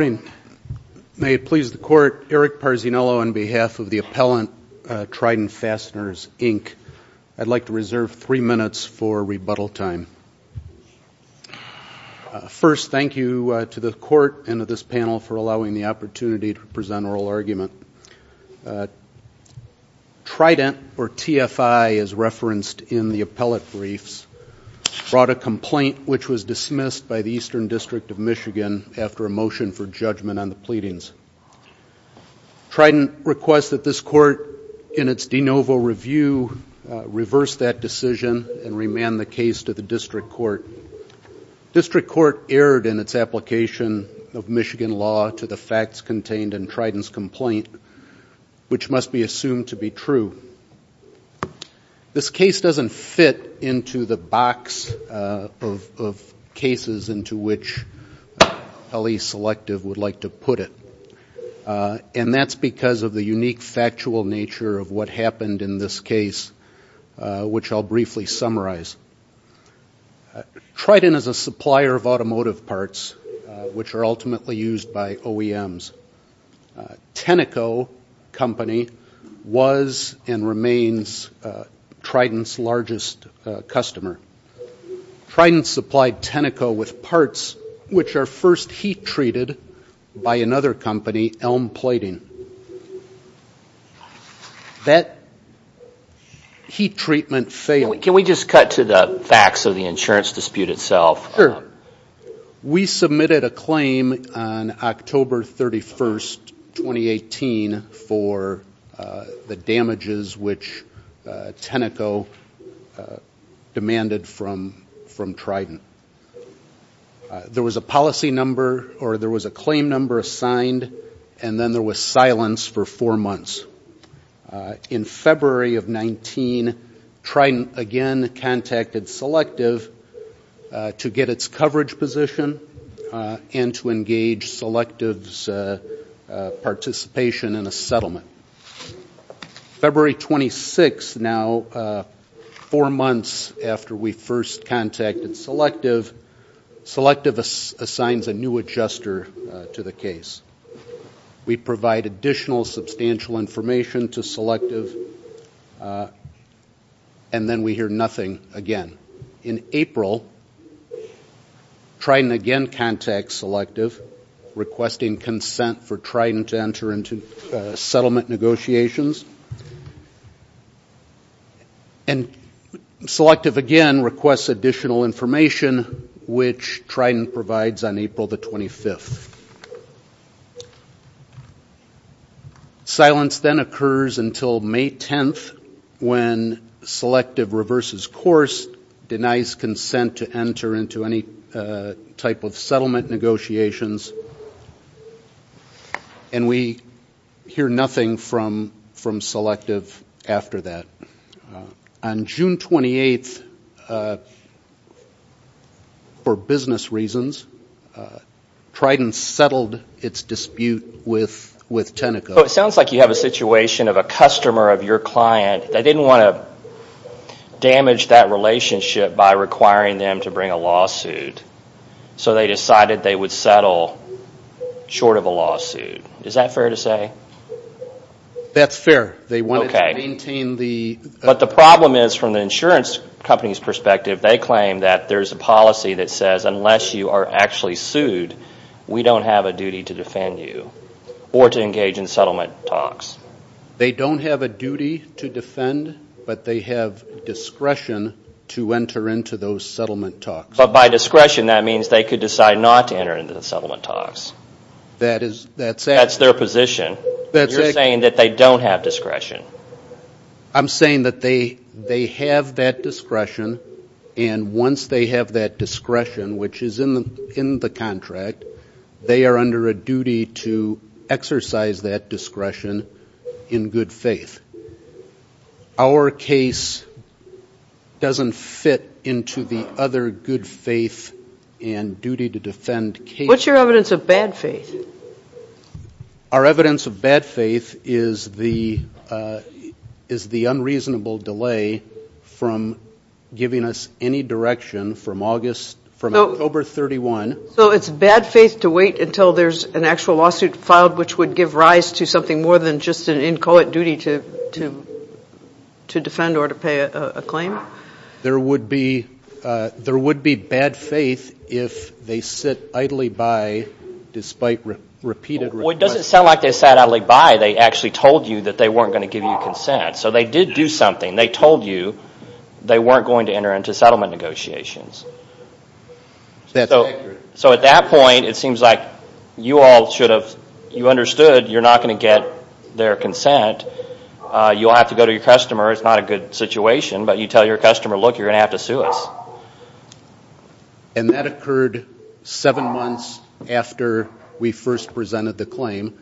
Good morning. May it please the court, Eric Parzinello on behalf of the appellant Trident Fasteners Inc. I'd like to reserve three minutes for rebuttal time. First, thank you to the court and to this panel for allowing the opportunity to present oral argument. Trident, or TFI as referenced in the appellate briefs, brought a complaint which was dismissed by the Eastern District of Michigan after a motion for judgment on the pleadings. Trident requests that this court, in its de novo review, reverse that decision and remand the case to the District Court. District Court erred in its application of Michigan law to the facts contained in Trident's complaint, which must be assumed to be true. This case doesn't fit into the box of cases into which L.E. Selective would like to put it. And that's because of the unique factual nature of what happened in this case, which I'll briefly summarize. Trident is a supplier of automotive parts, which are ultimately used by OEMs. Tenneco Company was and remains Trident's largest customer. Trident supplied Tenneco with parts which are first heat treated by another company, Elm Plating. That heat treatment failed. Can we just cut to the facts of the insurance dispute itself? Sure. We submitted a claim on October 31st, 2018, for the damages which Tenneco demanded from Trident. There was a policy number, or there was a claim number assigned, and then there was silence for four months. In February of 19, Trident again contacted Selective to get its coverage position and to engage Selective's participation in a settlement. February 26, now four months after we first contacted Selective, Selective assigns a new adjuster to the case. We provide additional substantial information to Selective, and then we hear nothing again. In April, Trident again contacts Selective, requesting consent for Trident to enter into settlement negotiations. And Selective again requests additional information, which Trident provides on April the 25th. Silence then occurs until May 10th, when Selective reverses course, denies consent to enter into any type of settlement negotiations, and we hear nothing from Selective after that. On June 28th, for business reasons, Trident settled its dispute with Tenneco. Well, it sounds like you have a situation of a customer of your client. They didn't want to damage that relationship by requiring them to bring a lawsuit, so they decided they would settle short of a lawsuit. Is that fair to say? That's fair. They wanted to maintain the... But the problem is, from the insurance company's perspective, they claim that there's a policy that says unless you are actually sued, we don't have a duty to defend you or to engage in settlement talks. They don't have a duty to defend, but they have discretion to enter into those settlement talks. But by discretion, that means they could decide not to enter into the settlement talks. That's their position. You're saying that they don't have discretion. I'm saying that they have that discretion, and once they have that discretion, which is in the contract, they are under a duty to exercise that discretion in good faith. Our case doesn't fit into the other good faith and duty to defend case. What's your evidence of bad faith? Our evidence of bad faith is the unreasonable delay from giving us any direction from October 31. So it's bad faith to wait until there's an actual lawsuit filed, which would give rise to something more than just an inchoate duty to defend or to pay a claim? There would be bad faith if they sit idly by despite repeated requests. Well, it doesn't sound like they sat idly by. They actually told you that they weren't going to give you consent. So they did do something. They told you they weren't going to enter into settlement negotiations. That's accurate. So at that point, it seems like you all should have understood you're not going to get their consent. You'll have to go to your customer. It's not a good situation, but you tell your customer, look, you're going to have to sue us. And that occurred seven months after we first presented the claim.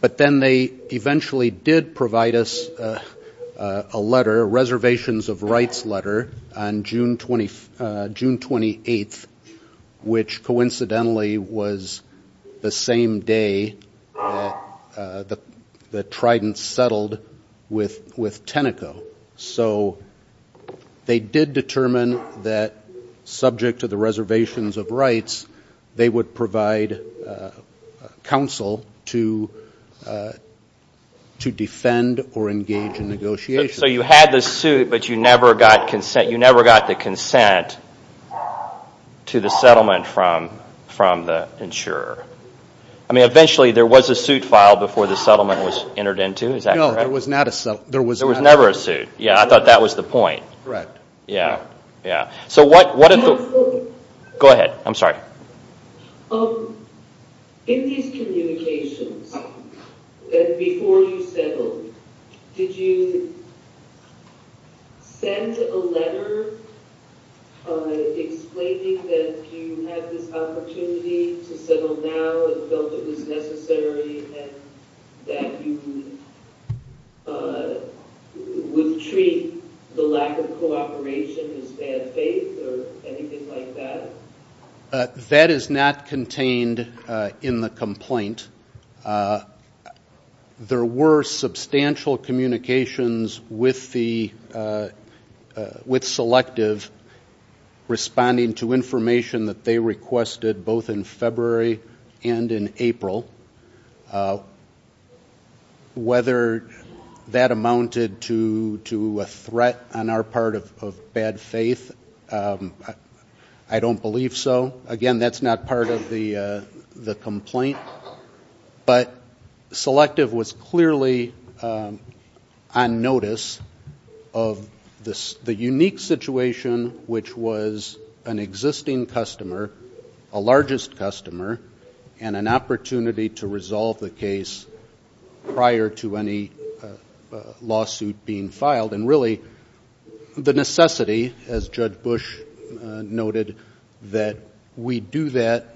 But then they eventually did provide us a letter, a reservations of rights letter, on June 28th, which coincidentally was the same day that Trident settled with Tenneco. So they did determine that subject to the reservations of rights, they would provide counsel to defend or engage in negotiations. So you had the suit, but you never got consent. You never got the consent to the settlement from the insurer. I mean, eventually there was a suit filed before the settlement was entered into. Is that correct? There was never a suit. There was never a suit. Yeah, I thought that was the point. Correct. Yeah. Yeah. Go ahead. I'm sorry. In these communications, before you settled, did you send a letter explaining that you had this opportunity to settle now and felt it was necessary and that you would treat the lack of cooperation as bad faith or anything like that? That is not contained in the complaint. There were substantial communications with Selective responding to information that they requested, both in February and in April. Whether that amounted to a threat on our part of bad faith, I don't believe so. Again, that's not part of the complaint. But Selective was clearly on notice of the unique situation, which was an existing customer, a largest customer, and an opportunity to resolve the case prior to any lawsuit being filed, and really the necessity, as Judge Bush noted, that we do that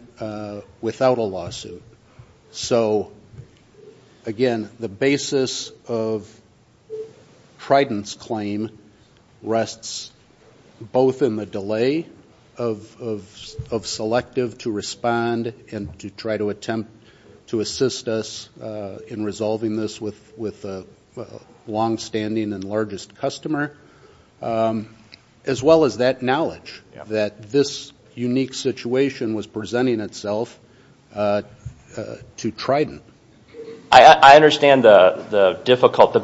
without a lawsuit. So, again, the basis of Trident's claim rests both in the delay of Selective to respond and to try to attempt to assist us in resolving this with a longstanding and largest customer, as well as that knowledge that this unique situation was presenting itself to Trident. I understand the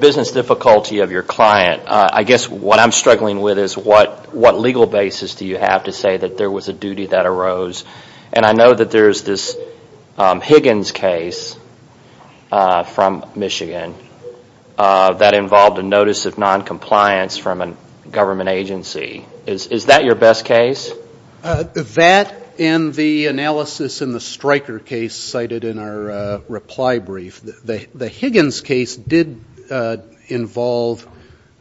business difficulty of your client. I guess what I'm struggling with is what legal basis do you have to say that there was a duty that arose? And I know that there's this Higgins case from Michigan that involved a notice of noncompliance from a government agency. Is that your best case? That and the analysis in the Stryker case cited in our reply brief, the Higgins case did involve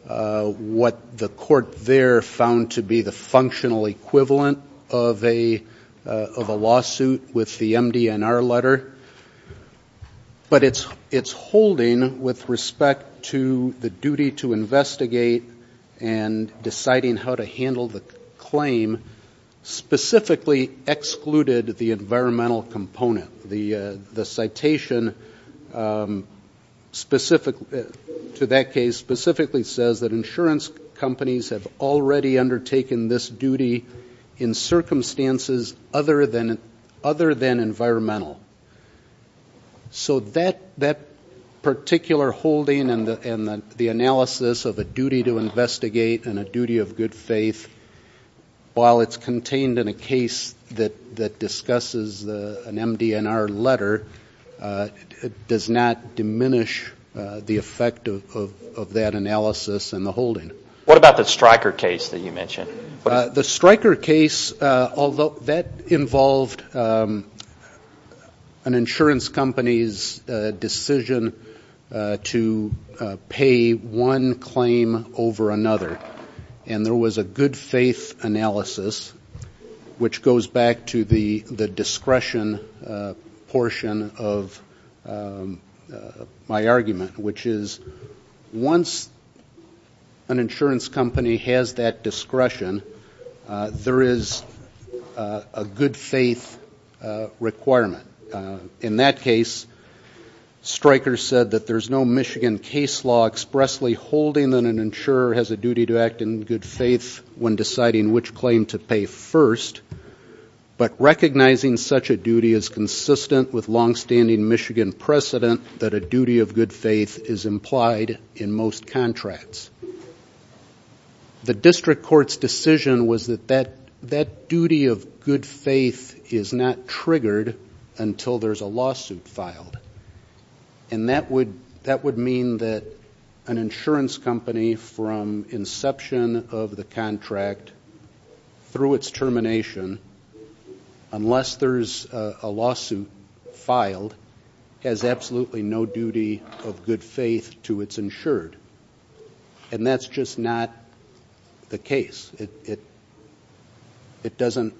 what the court there found to be the functional equivalent of a lawsuit with the MD&R letter. But its holding with respect to the duty to investigate and deciding how to handle the claim specifically excluded the environmental component. The citation to that case specifically says that insurance companies have already undertaken this duty in circumstances other than environmental. So that particular holding and the analysis of a duty to investigate and a duty of good faith, while it's contained in a case that discusses an MD&R letter, does not diminish the effect of that analysis and the holding. What about the Stryker case that you mentioned? The Stryker case, although that involved an insurance company's decision to pay one claim over another, and there was a good faith analysis, which goes back to the discretion portion of my argument, which is once an insurance company has that discretion, there is a good faith requirement. In that case, Stryker said that there's no Michigan case law expressly holding that an insurer has a duty to act in good faith when deciding which claim to pay first, but recognizing such a duty is consistent with longstanding Michigan precedent that a duty of good faith is implied in most contracts. The district court's decision was that that duty of good faith is not triggered until there's a lawsuit filed, and that would mean that an insurance company from inception of the contract through its termination, unless there's a lawsuit filed, has absolutely no duty of good faith to its insured, and that's just not the case. It doesn't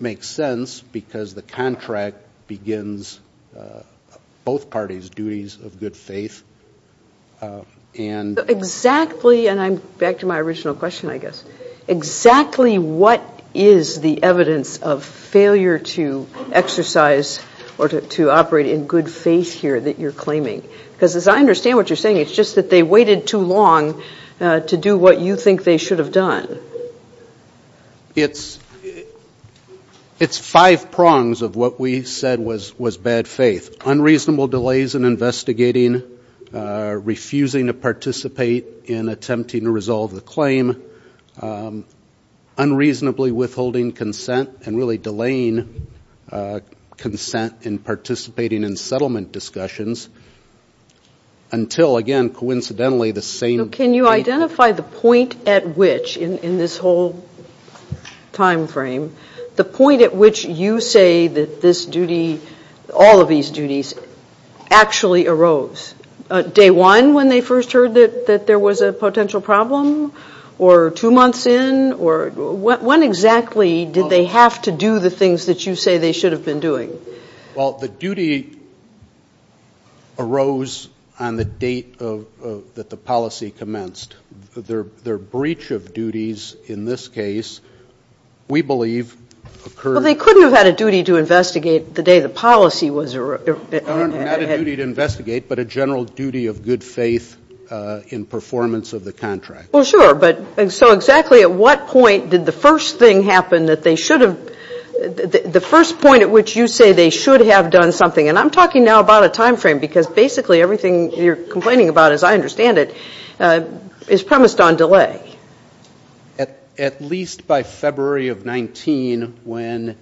make sense because the contract begins both parties' duties of good faith. Exactly, and I'm back to my original question, I guess. Exactly what is the evidence of failure to exercise or to operate in good faith here that you're claiming? Because as I understand what you're saying, it's just that they waited too long to do what you think they should have done. It's five prongs of what we said was bad faith, unreasonable delays in investigating, refusing to participate in attempting to resolve the claim, unreasonably withholding consent and really delaying consent in participating in settlement discussions until, again, coincidentally, the same date. Now, can you identify the point at which, in this whole time frame, the point at which you say that this duty, all of these duties, actually arose? Day one when they first heard that there was a potential problem? Or two months in? When exactly did they have to do the things that you say they should have been doing? Well, the duty arose on the date that the policy commenced. Their breach of duties, in this case, we believe occurred at the date that the policy commenced. Well, they couldn't have had a duty to investigate the day the policy was erupt. Not a duty to investigate, but a general duty of good faith in performance of the contract. Well, sure, but so exactly at what point did the first thing happen that they should have? The first point at which you say they should have done something, and I'm talking now about a time frame because basically everything you're complaining about, as I understand it, is premised on delay. At least by February of 19, when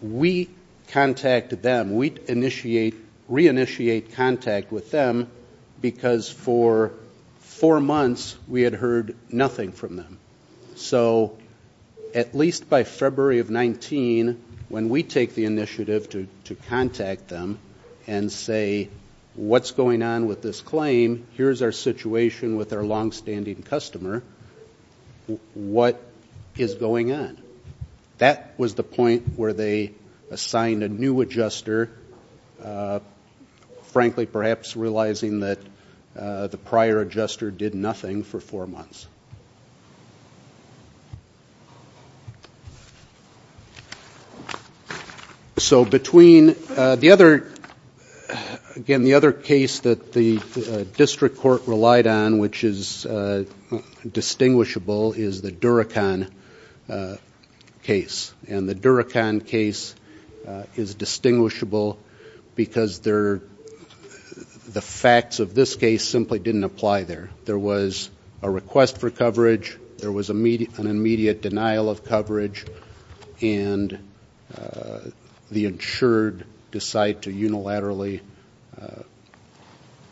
we contacted them, we'd initiate, re-initiate contact with them, because for four months we had heard nothing from them. So at least by February of 19, when we take the initiative to contact them and say, what's going on with this claim, here's our situation with our longstanding customer, what is going on? That was the point where they assigned a new adjuster, frankly, perhaps realizing that the prior adjuster did nothing for four months. So between the other, again, the other case that the district court relied on, which is distinguishable, is the Duracon case. And the Duracon case is distinguishable because the facts of this case simply didn't apply there. There was a request for coverage, there was an immediate denial of coverage, and the insured decide to unilaterally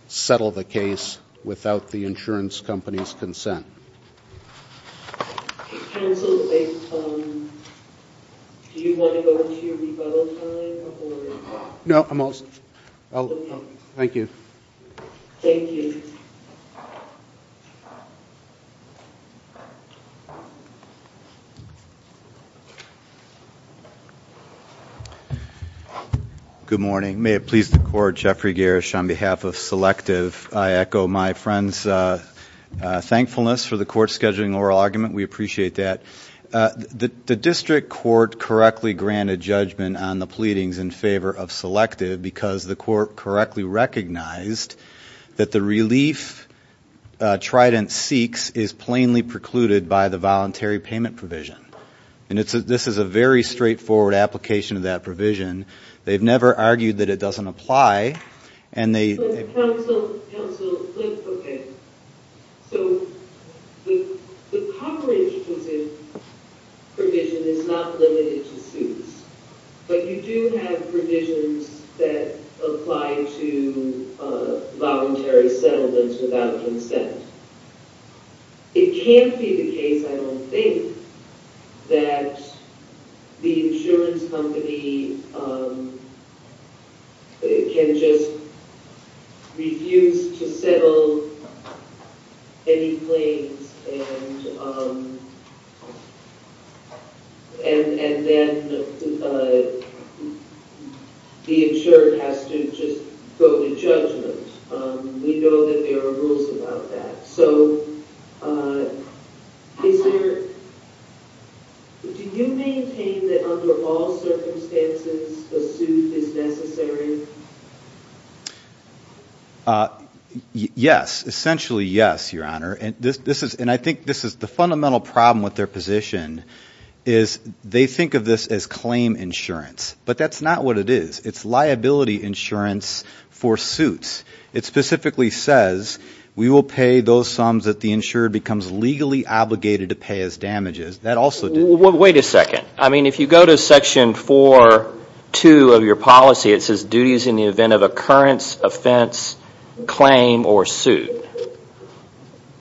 settle the case without the insurance company's consent. Counsel, do you want to go into your rebuttal time? No, I'm all set. Thank you. Thank you. Good morning. May it please the Court, Jeffrey Gersh on behalf of Selective. I echo my friend's thankfulness for the court scheduling oral argument. We appreciate that. The district court correctly granted judgment on the pleadings in favor of Selective because the court correctly recognized that the relief Trident seeks is plainly precluded by the voluntary payment provision. And this is a very straightforward application of that provision. They've never argued that it doesn't apply. Counsel, okay, so the coverage provision is not limited to suits, but you do have provisions that apply to voluntary settlements without consent. It can't be the case, I don't think, that the insurance company can just refuse to settle any claims and then the insured has to just go to judgment. We know that there are rules about that. So do you maintain that under all circumstances a suit is necessary? Yes, essentially yes, Your Honor. And I think this is the fundamental problem with their position is they think of this as claim insurance, but that's not what it is. It's liability insurance for suits. It specifically says we will pay those sums that the insured becomes legally obligated to pay as damages. That also didn't happen. Wait a second. I mean, if you go to Section 4.2 of your policy, it says duties in the event of occurrence, offense, claim, or suit.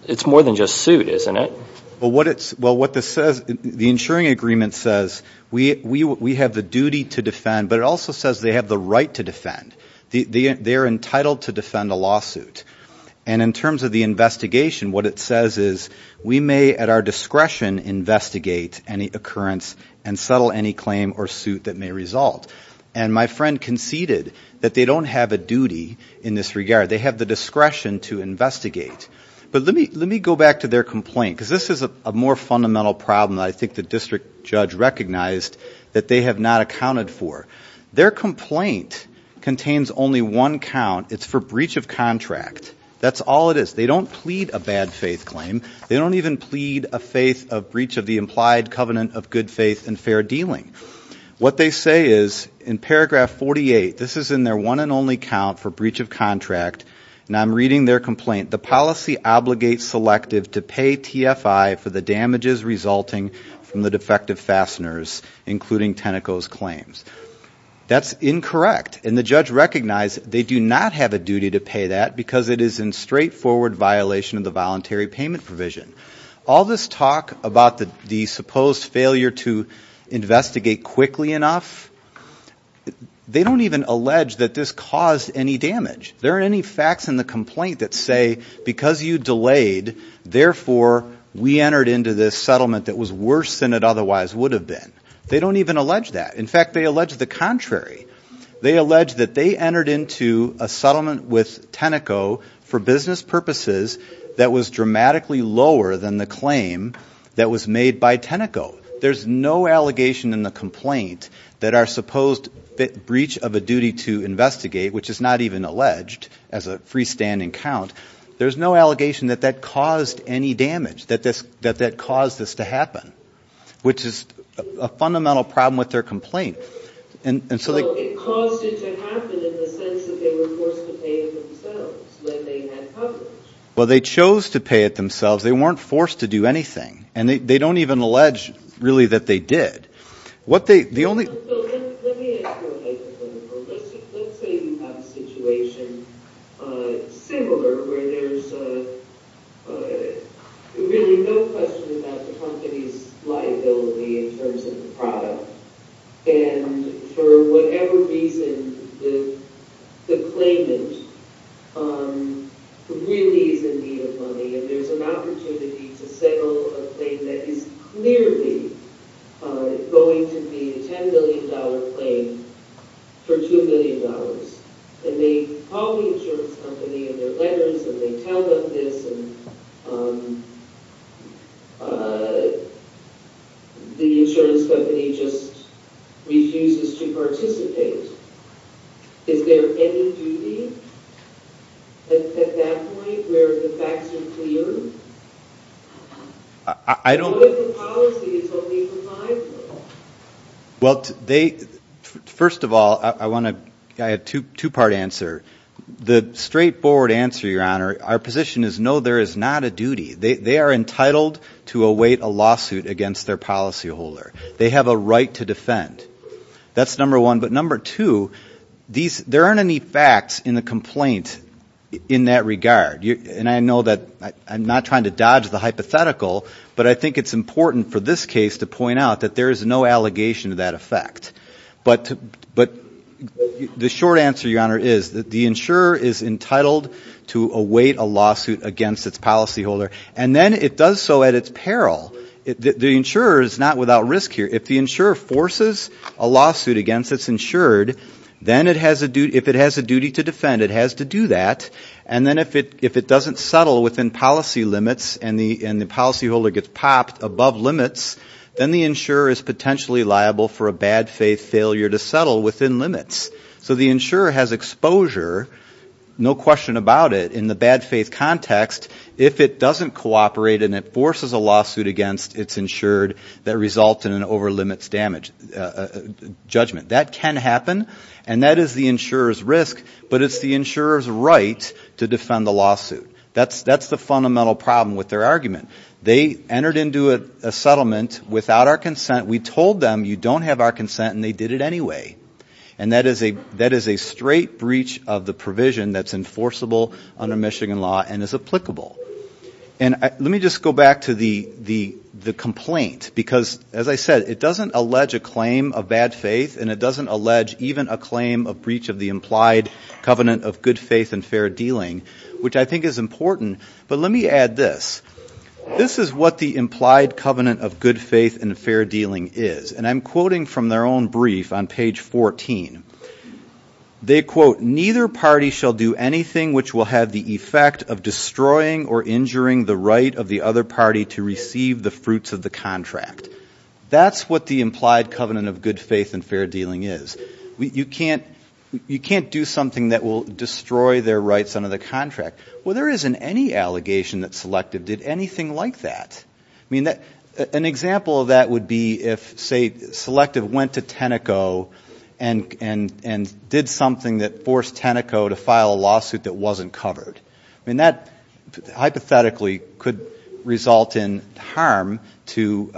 It's more than just suit, isn't it? Well, what this says, the insuring agreement says we have the duty to defend, but it also says they have the right to defend. They are entitled to defend a lawsuit. And in terms of the investigation, what it says is we may at our discretion investigate any occurrence and settle any claim or suit that may result. And my friend conceded that they don't have a duty in this regard. They have the discretion to investigate. But let me go back to their complaint because this is a more fundamental problem that I think the district judge recognized that they have not accounted for. Their complaint contains only one count. It's for breach of contract. That's all it is. They don't plead a bad faith claim. They don't even plead a breach of the implied covenant of good faith and fair dealing. What they say is in paragraph 48, this is in their one and only count for breach of contract, and I'm reading their complaint. The policy obligates selective to pay TFI for the damages resulting from the defective fasteners, including Tenneco's claims. That's incorrect, and the judge recognized they do not have a duty to pay that because it is in straightforward violation of the voluntary payment provision. All this talk about the supposed failure to investigate quickly enough, they don't even allege that this caused any damage. There aren't any facts in the complaint that say because you delayed, therefore we entered into this settlement that was worse than it otherwise would have been. They don't even allege that. In fact, they allege the contrary. They allege that they entered into a settlement with Tenneco for business purposes that was dramatically lower than the claim that was made by Tenneco. There's no allegation in the complaint that our supposed breach of a duty to investigate, which is not even alleged as a freestanding count, there's no allegation that that caused any damage, that that caused this to happen, which is a fundamental problem with their complaint. So it caused it to happen in the sense that they were forced to pay it themselves when they had published. Well, they chose to pay it themselves. They weren't forced to do anything, and they don't even allege really that they did. Let me ask you a hypothetical. Let's say you have a situation similar where there's really no question about the company's liability in terms of the product, and for whatever reason the claimant really is in need of money, and there's an opportunity to settle a claim that is clearly going to be a $10 million claim for $2 million. And they call the insurance company in their letters, and they tell them this, and the insurance company just refuses to participate. Is there any duty at that point where the facts are clear? What if the policy is only for five years? First of all, I want a two-part answer. The straightforward answer, Your Honor, our position is no, there is not a duty. They are entitled to await a lawsuit against their policyholder. They have a right to defend. That's number one. But number two, there aren't any facts in the complaint in that regard. And I know that I'm not trying to dodge the hypothetical, but I think it's important for this case to point out that there is no allegation to that effect. But the short answer, Your Honor, is that the insurer is entitled to await a lawsuit against its policyholder, and then it does so at its peril. The insurer is not without risk here. If the insurer forces a lawsuit against its insured, then if it has a duty to defend, it has to do that. And then if it doesn't settle within policy limits and the policyholder gets popped above limits, then the insurer is potentially liable for a bad faith failure to settle within limits. So the insurer has exposure, no question about it, in the bad faith context. If it doesn't cooperate and it forces a lawsuit against its insured that results in an over-limits judgment, that can happen, and that is the insurer's risk. But it's the insurer's right to defend the lawsuit. That's the fundamental problem with their argument. They entered into a settlement without our consent. We told them you don't have our consent, and they did it anyway. And that is a straight breach of the provision that's enforceable under Michigan law and is applicable. And let me just go back to the complaint because, as I said, it doesn't allege a claim of bad faith, and it doesn't allege even a claim of breach of the implied covenant of good faith and fair dealing, which I think is important, but let me add this. This is what the implied covenant of good faith and fair dealing is, and I'm quoting from their own brief on page 14. They quote, neither party shall do anything which will have the effect of destroying or injuring the right of the other party to receive the fruits of the contract. That's what the implied covenant of good faith and fair dealing is. You can't do something that will destroy their rights under the contract. Well, there isn't any allegation that Selective did anything like that. I mean, an example of that would be if, say, Selective went to Tenneco and did something that forced Tenneco to file a lawsuit that wasn't covered. I mean, that hypothetically could result in harm to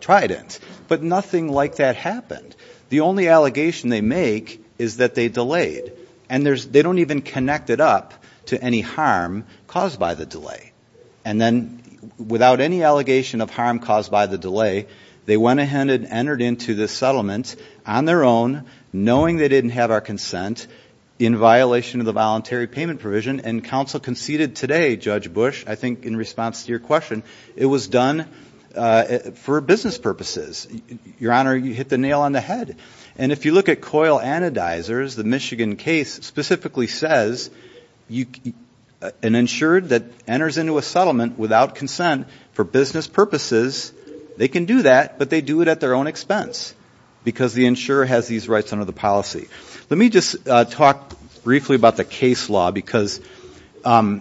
Trident. But nothing like that happened. The only allegation they make is that they delayed, and they don't even connect it up to any harm caused by the delay. And then without any allegation of harm caused by the delay, they went ahead and entered into this settlement on their own, knowing they didn't have our consent, in violation of the voluntary payment provision. And counsel conceded today, Judge Bush, I think in response to your question, it was done for business purposes. Your Honor, you hit the nail on the head. And if you look at COIL Anodizers, the Michigan case specifically says an insurer that enters into a settlement without consent for business purposes, they can do that, but they do it at their own expense, because the insurer has these rights under the policy. Let me just talk briefly about the case law, because I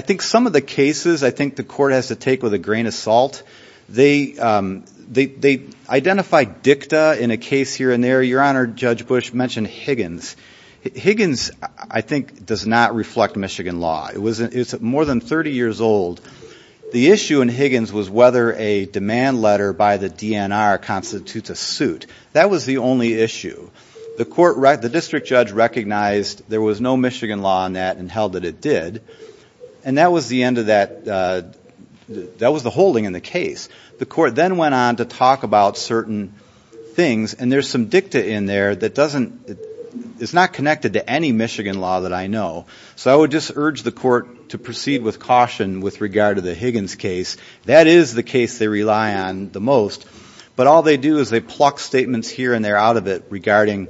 think some of the cases I think the Court has to take with a grain of salt, they identify DICTA in a case here and there. Your Honor, Judge Bush mentioned Higgins. Higgins, I think, does not reflect Michigan law. It's more than 30 years old. The issue in Higgins was whether a demand letter by the DNR constitutes a suit. That was the only issue. The District Judge recognized there was no Michigan law in that and held that it did. And that was the end of that. That was the holding in the case. The Court then went on to talk about certain things, and there's some DICTA in there that is not connected to any Michigan law that I know. So I would just urge the Court to proceed with caution with regard to the Higgins case. That is the case they rely on the most. But all they do is they pluck statements here and there out of it regarding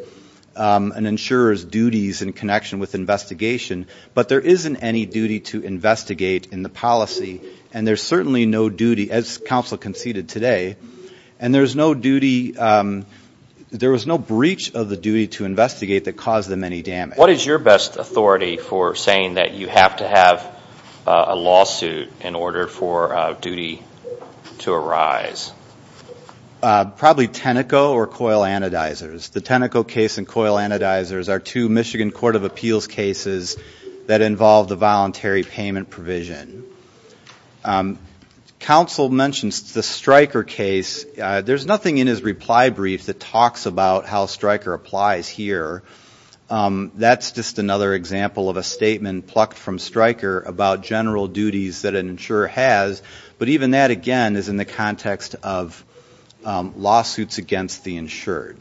an insurer's duties in connection with investigation. But there isn't any duty to investigate in the policy, and there's certainly no duty, as counsel conceded today, and there was no breach of the duty to investigate that caused them any damage. What is your best authority for saying that you have to have a lawsuit in order for a duty to arise? Probably Tenneco or Coil Anodizers. The Tenneco case and Coil Anodizers are two Michigan Court of Appeals cases that involve the voluntary payment provision. Counsel mentions the Stryker case. There's nothing in his reply brief that talks about how Stryker applies here. That's just another example of a statement plucked from Stryker about general duties that an insurer has. But even that, again, is in the context of lawsuits against the insured.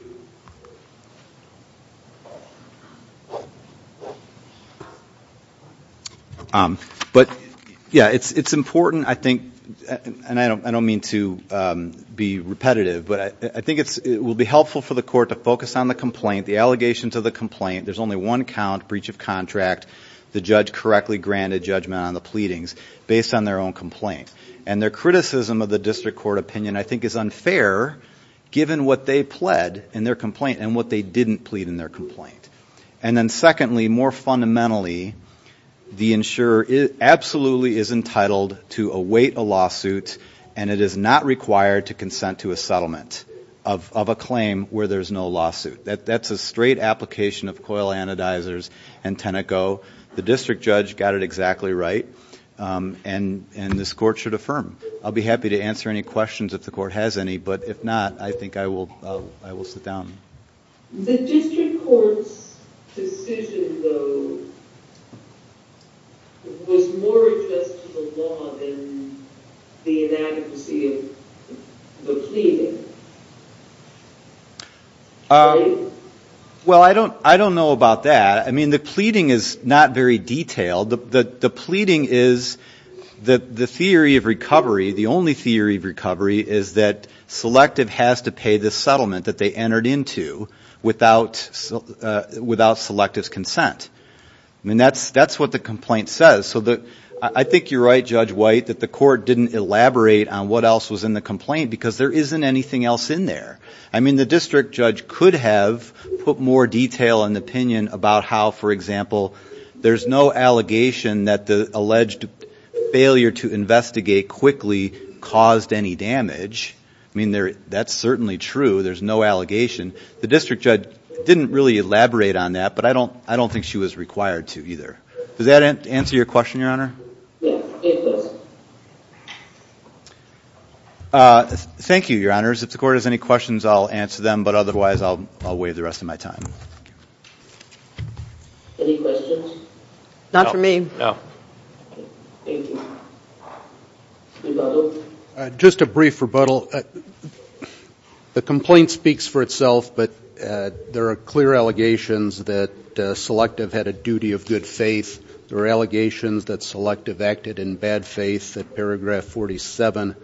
But, yeah, it's important, I think, and I don't mean to be repetitive, but I think it will be helpful for the court to focus on the complaint, the allegations of the complaint, there's only one count, breach of contract, the judge correctly granted judgment on the pleadings based on their own complaint. And their criticism of the district court opinion I think is unfair given what they pled in their complaint and what they didn't plead in their complaint. And then secondly, more fundamentally, the insurer absolutely is entitled to await a lawsuit and it is not required to consent to a settlement of a claim where there's no lawsuit. That's a straight application of Coil Anodizers and Tenneco. The district judge got it exactly right and this court should affirm. I'll be happy to answer any questions if the court has any, but if not, I think I will sit down. The district court's decision, though, was more addressed to the law than the inadequacy of the pleading, right? Well, I don't know about that. I mean, the pleading is not very detailed. The pleading is that the theory of recovery, the only theory of recovery, is that Selective has to pay the settlement that they entered into without Selective's consent. I mean, that's what the complaint says. I think you're right, Judge White, that the court didn't elaborate on what else was in the complaint because there isn't anything else in there. I mean, the district judge could have put more detail and opinion about how, for example, there's no allegation that the alleged failure to investigate quickly caused any damage. I mean, that's certainly true. There's no allegation. The district judge didn't really elaborate on that, but I don't think she was required to either. Does that answer your question, Your Honor? Yes, it does. Thank you, Your Honors. If the court has any questions, I'll answer them, but otherwise I'll waive the rest of my time. Any questions? No. Just a brief rebuttal. Well, the complaint speaks for itself, but there are clear allegations that Selective had a duty of good faith. There are allegations that Selective acted in bad faith at paragraph 47,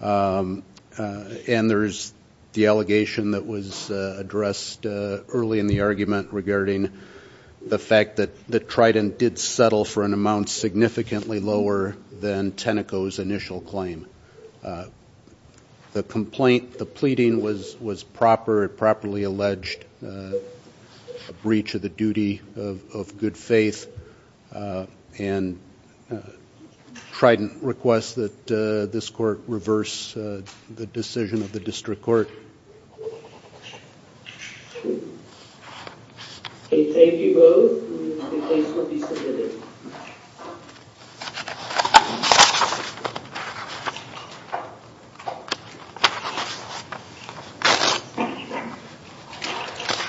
and there's the allegation that was addressed early in the argument regarding the fact that Trident did settle for an amount significantly lower than Tenneco's initial claim. The complaint, the pleading was proper. It properly alleged a breach of the duty of good faith, and Trident requests that this court reverse the decision of the district court. Thank you both. The case will be submitted. Thank you.